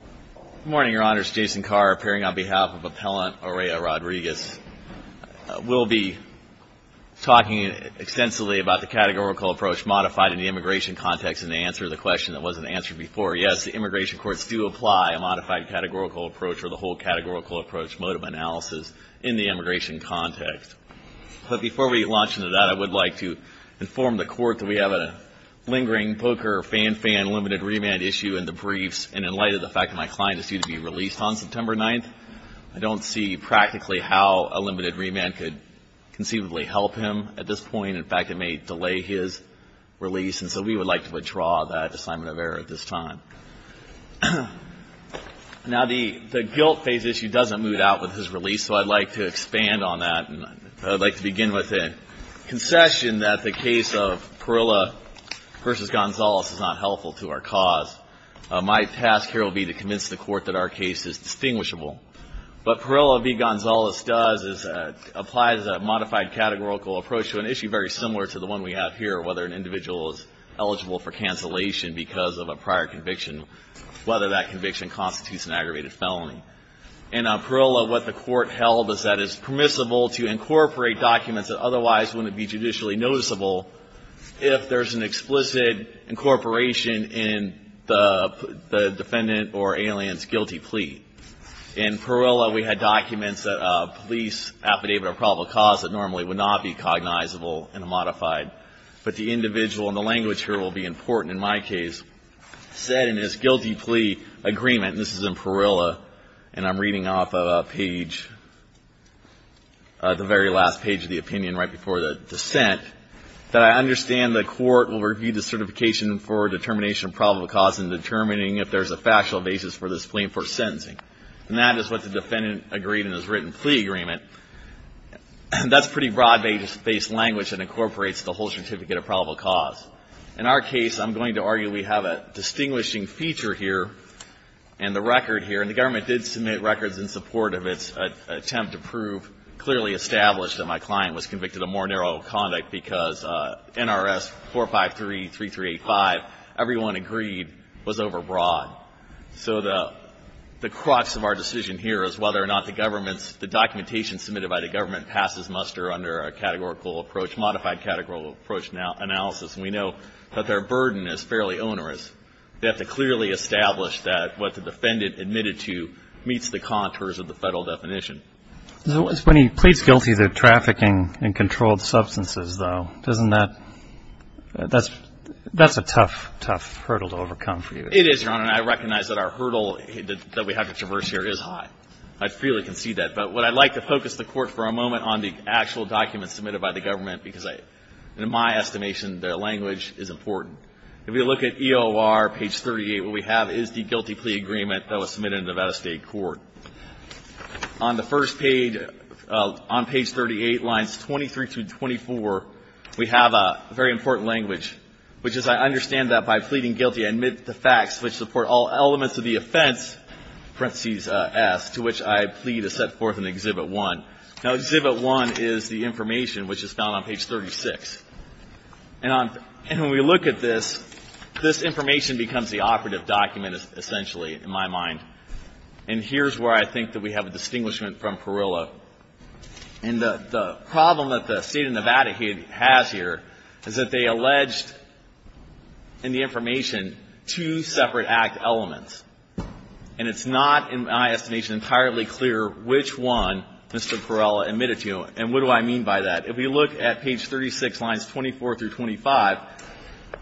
Good morning, your honors. Jason Carr, appearing on behalf of Appellant Orea-Rodrigues. We'll be talking extensively about the categorical approach modified in the immigration context in the answer to the question that wasn't answered before. Yes, the immigration courts do apply a modified categorical approach or the whole categorical approach mode of analysis in the immigration context. But before we launch into that, I would like to inform the court that we have a lingering poker fan-fan limited remand issue in the briefs. And in light of the fact that my client is due to be released on September 9th, I don't see practically how a limited remand could conceivably help him at this point. In fact, it may delay his release. And so we would like to withdraw that assignment of error at this time. Now, the guilt phase issue doesn't move out with his release. So I'd like to expand on that. And I'd like to begin with a concession that the case of Parilla v. Gonzalez is not helpful to our cause. My task here will be to convince the court that our case is distinguishable. But Parilla v. Gonzalez applies a modified categorical approach to an issue very similar to the one we have here, whether an individual is eligible for cancellation because of a prior conviction, whether that conviction constitutes an aggravated felony. In Parilla, what the court held is that it's permissible to incorporate documents that otherwise wouldn't be judicially noticeable if there's an explicit incorporation in the defendant or alien's guilty plea. In Parilla, we had documents that a police affidavit of probable cause that normally would not be cognizable in a modified. But the individual, and the language here will be important in my case, said in his guilty plea agreement, and this is in Parilla, and I'm reading off of a page, the very last page of the opinion right before the dissent, that I understand the court will review the certification for determination of probable cause in determining if there's a factual basis for this plea for sentencing. And that is what the defendant agreed in his written plea agreement. That's pretty broad-based language that incorporates the whole certificate of probable cause. In our case, I'm going to argue we have a distinguishing feature here, and the record here, and the government did submit records in support of its attempt to prove clearly established that my client was convicted of more narrow conduct because NRS 4533385, everyone agreed, was overbroad. So the crux of our decision here is whether or not the government's, the documentation submitted by the government passes muster under a categorical approach, modified categorical approach analysis. We know that their burden is fairly onerous. They have to clearly establish that what the defendant admitted to meets the contours of the federal definition. So when he pleads guilty to trafficking in controlled substances, though, doesn't that, that's a tough, tough hurdle to overcome for you. It is, Your Honor, and I recognize that our hurdle that we have to traverse here is high. I freely concede that. But what I'd like to focus the court for a moment on the actual documents submitted by the government because in my estimation, their language is important. If you look at EOR page 38, what we have is the guilty plea agreement that was submitted in the Nevada State Court. On the first page, on page 38, lines 23 through 24, we have a very important language, which is I understand that by pleading guilty, I admit the facts which support all elements of the offense, parentheses S, to which I plead to set forth in exhibit one. Now exhibit one is the information which is found on page 36. And when we look at this, this information becomes the operative document, essentially, in my mind. And here's where I think that we have a distinguishment from Perella. And the problem that the state of Nevada has here is that they alleged in the information two separate act elements. And it's not, in my estimation, entirely clear which one Mr. Perella admitted to. And what do I mean by that? If we look at page 36, lines 24 through 25,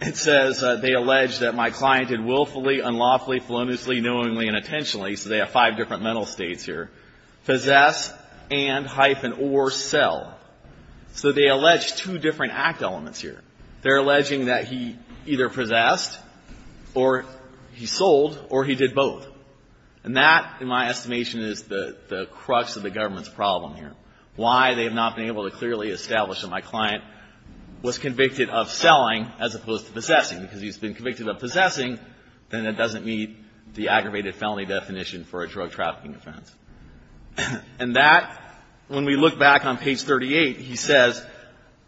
it says they allege that my client had willfully, unlawfully, feloniously, knowingly, and intentionally, so they have five different mental states here, possess and, hyphen, or sell. So they allege two different act elements here. They're alleging that he either possessed, or he sold, or he did both. And that, in my estimation, is the crux of the government's problem here. Why they have not been able to clearly establish that my client was convicted of selling as opposed to possessing, because he's been convicted of possessing, then it doesn't meet the aggravated felony definition for a drug trafficking offense. And that, when we look back on page 38, he says,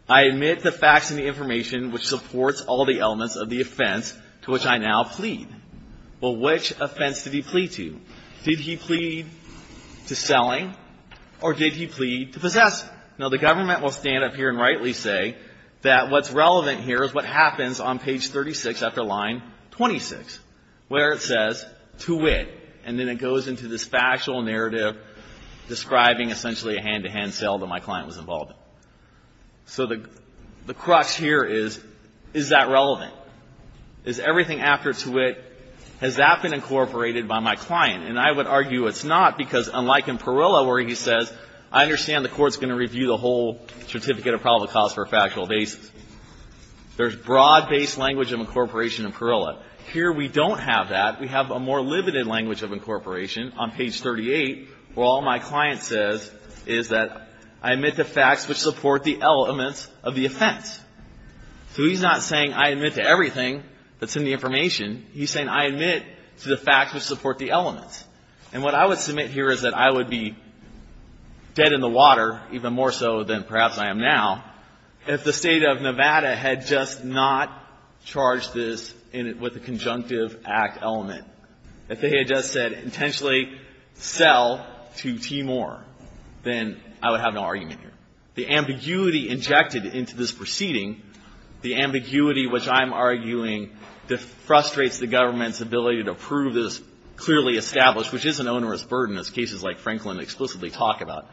I admit the facts and the information which supports all the elements of the offense to which I now plead. Well, which offense did he plead to? Did he plead to selling, or did he plead to possess? Now, the government will stand up here and rightly say that what's relevant here is what happens on page 36 after line 26, where it says, to wit. And then it goes into this factual narrative describing, essentially, a hand-to-hand sale that my client was involved in. So the crux here is, is that relevant? Is everything after to wit, has that been incorporated by my client? And I would argue it's not, because unlike in Parilla, where he says, I understand the court's gonna review the whole certificate of probable cause for a factual basis. There's broad-based language of incorporation in Parilla. Here, we don't have that. We have a more limited language of incorporation on page 38, where all my client says is that, I admit the facts which support the elements of the offense. So he's not saying, I admit to everything that's in the information. He's saying, I admit to the facts which support the elements. And what I would submit here is that I would be dead in the water, even more so than perhaps I am now, if the state of Nevada had just not charged this with a conjunctive act element. If they had just said, intentionally sell to Timor, then I would have no argument here. The ambiguity injected into this proceeding, the ambiguity which I'm arguing defrustrates the government's ability to prove this clearly established, which is an onerous burden, as cases like Franklin explicitly talk about,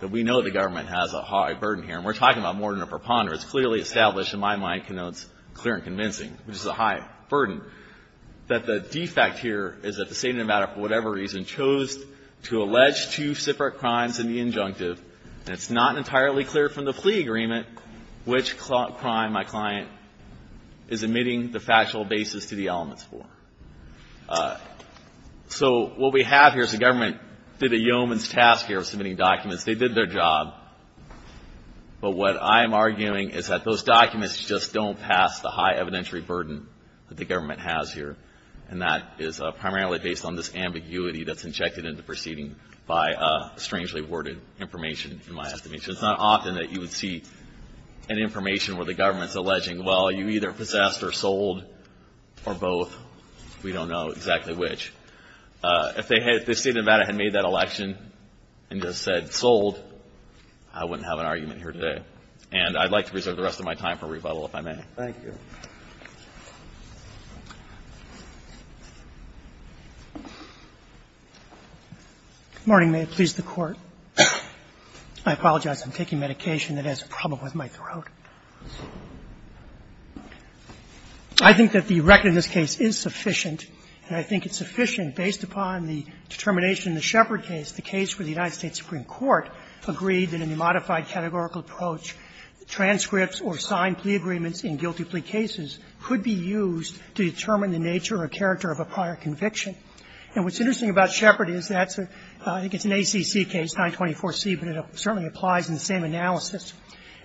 that we know the government has a high burden here. And we're talking about more than a preponderance. Clearly established, in my mind, clear and convincing, which is a high burden. That the defect here is that the state of Nevada, for whatever reason, chose to allege two separate crimes in the injunctive. And it's not entirely clear from the plea agreement which crime my client is admitting the factual basis to the elements for. So what we have here is the government did a yeoman's task here of submitting documents. They did their job. But what I am arguing is that those documents just don't pass the high evidentiary burden that the government has here. And that is primarily based on this ambiguity that's injected into proceeding by strangely worded information, in my estimation. It's not often that you would see an information where the government's alleging, well, you either possessed or sold, or both. We don't know exactly which. If the state of Nevada had made that election and just said sold, I wouldn't have an argument here today. And I'd like to reserve the rest of my time for rebuttal if I may. Thank you. Good morning. May it please the Court. I apologize. I'm taking medication that has a problem with my throat. I think that the record in this case is sufficient. And I think it's sufficient based upon the determination in the Shepard case, the case where the United States Supreme Court agreed that in the modified categorical approach, transcripts or signed plea agreements in guilty plea cases could be used to determine the nature or character of a prior conviction. And what's interesting about Shepard is that's a – I think it's an ACC case, 924C, but it certainly applies in the same analysis.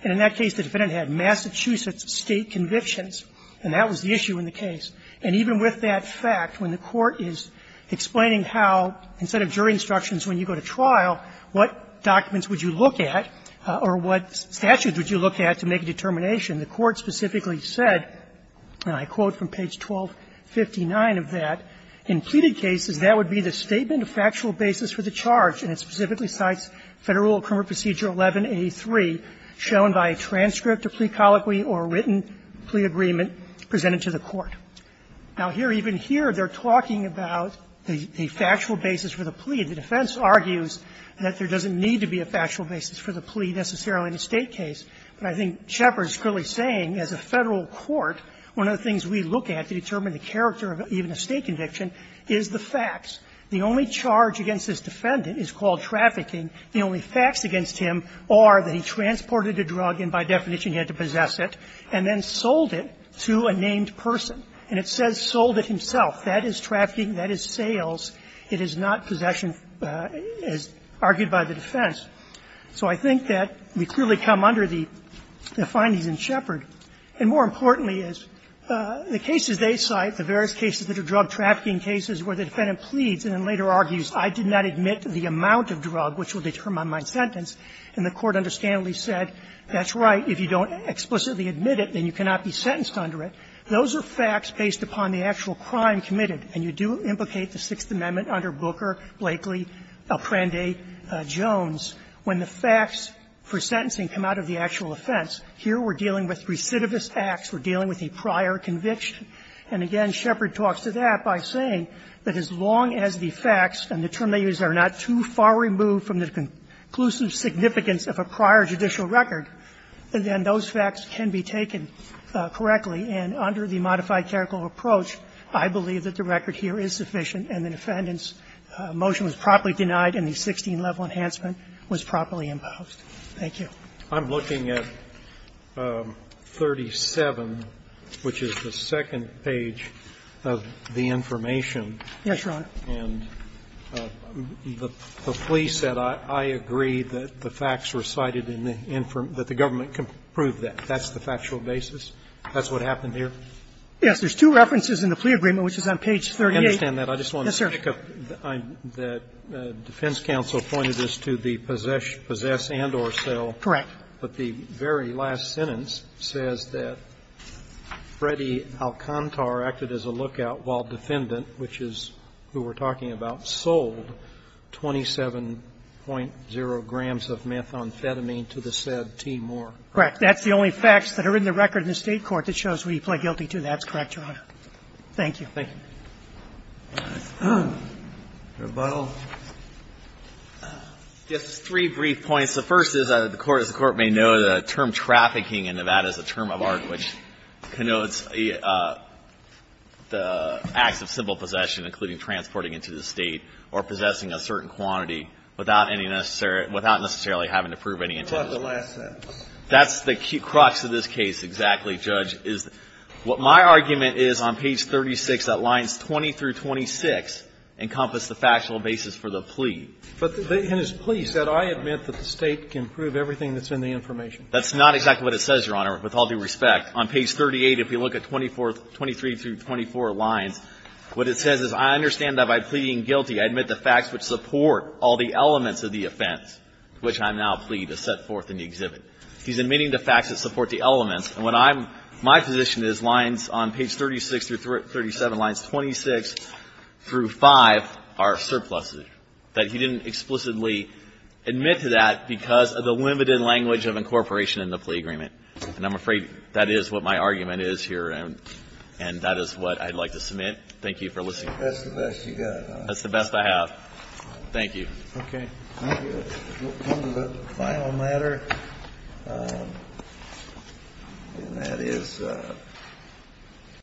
And in that case, the defendant had Massachusetts State convictions, and that was the issue in the case. And even with that fact, when the Court is explaining how, instead of jury instructions when you go to trial, what documents would you look at or what statutes would you look at to make a determination, the Court specifically said, and I quote from page 1259 of that, "...in pleaded cases, that would be the statement of factual basis for the charge. And it specifically cites Federal Criminal Procedure 11A3, shown by a transcript of plea colloquy or written plea agreement presented to the Court." Now, here, even here, they're talking about the factual basis for the plea, the defense argues that there doesn't need to be a factual basis for the plea necessarily in a State case. But I think Shepard is clearly saying, as a Federal court, one of the things we look at to determine the character of even a State conviction is the facts. The only charge against this defendant is called trafficking. The only facts against him are that he transported a drug and, by definition, he had to possess it, and then sold it to a named person. And it says sold it himself. That is trafficking. That is sales. It is not possession, as argued by the defense. So I think that we clearly come under the findings in Shepard. And more importantly is the cases they cite, the various cases that are drug trafficking cases where the defendant pleads and then later argues, I did not admit the amount of drug which will determine my sentence, and the Court understandably said, that's right, if you don't explicitly admit it, then you cannot be sentenced under it. Those are facts based upon the actual crime committed. And you do implicate the Sixth Amendment under Booker, Blakely, Alprande, Jones. When the facts for sentencing come out of the actual offense, here we're dealing with recidivist acts. We're dealing with a prior conviction. And again, Shepard talks to that by saying that as long as the facts, and the term they use, are not too far removed from the conclusive significance of a prior judicial record, then those facts can be taken correctly. And under the modified clerical approach, I believe that the record here is sufficient and the defendant's motion was properly denied and the 16-level enhancement was properly imposed. Thank you. Roberts, I'm looking at 37, which is the second page of the information. Yes, Your Honor. And the plea said, I agree that the facts recited in the information, that the government can prove that. That's the factual basis? That's what happened here? Yes. There's two references in the plea agreement, which is on page 38. I understand that. I just want to pick up that defense counsel pointed this to the possess and or sell. Correct. But the very last sentence says that Freddie Alcantar acted as a lookout while defendant, which is who we're talking about, sold 27.0 grams of methamphetamine to the said T. Moore. Correct. That's the only facts that are in the record in the State court that shows what he pled guilty to. That's correct, Your Honor. Thank you. Thank you. Rebuttal. Just three brief points. The first is, as the Court may know, the term trafficking in Nevada is a term of art which connotes the acts of simple possession, including transporting into the State or possessing a certain quantity without any necessary – without necessarily having to prove any intention. What about the last sentence? That's the crux of this case exactly, Judge, is what my argument is on page 36, that lines 20 through 26 encompass the factual basis for the plea. But in his plea, he said, I admit that the State can prove everything that's in the information. That's not exactly what it says, Your Honor, with all due respect. On page 38, if you look at 24 – 23 through 24 lines, what it says is, I understand that by pleading guilty, I admit the facts which support all the elements of the offense which I now plea to set forth in the exhibit. He's admitting the facts that support the elements. And when I'm – my position is lines on page 36 through 37, lines 26 through 5, are surpluses, that he didn't explicitly admit to that because of the limited language of incorporation in the plea agreement. And I'm afraid that is what my argument is here, and that is what I'd like to submit. Thank you for listening. That's the best you got, huh? That's the best I have. Thank you. Okay. Thank you. We'll come to the final matter, and that is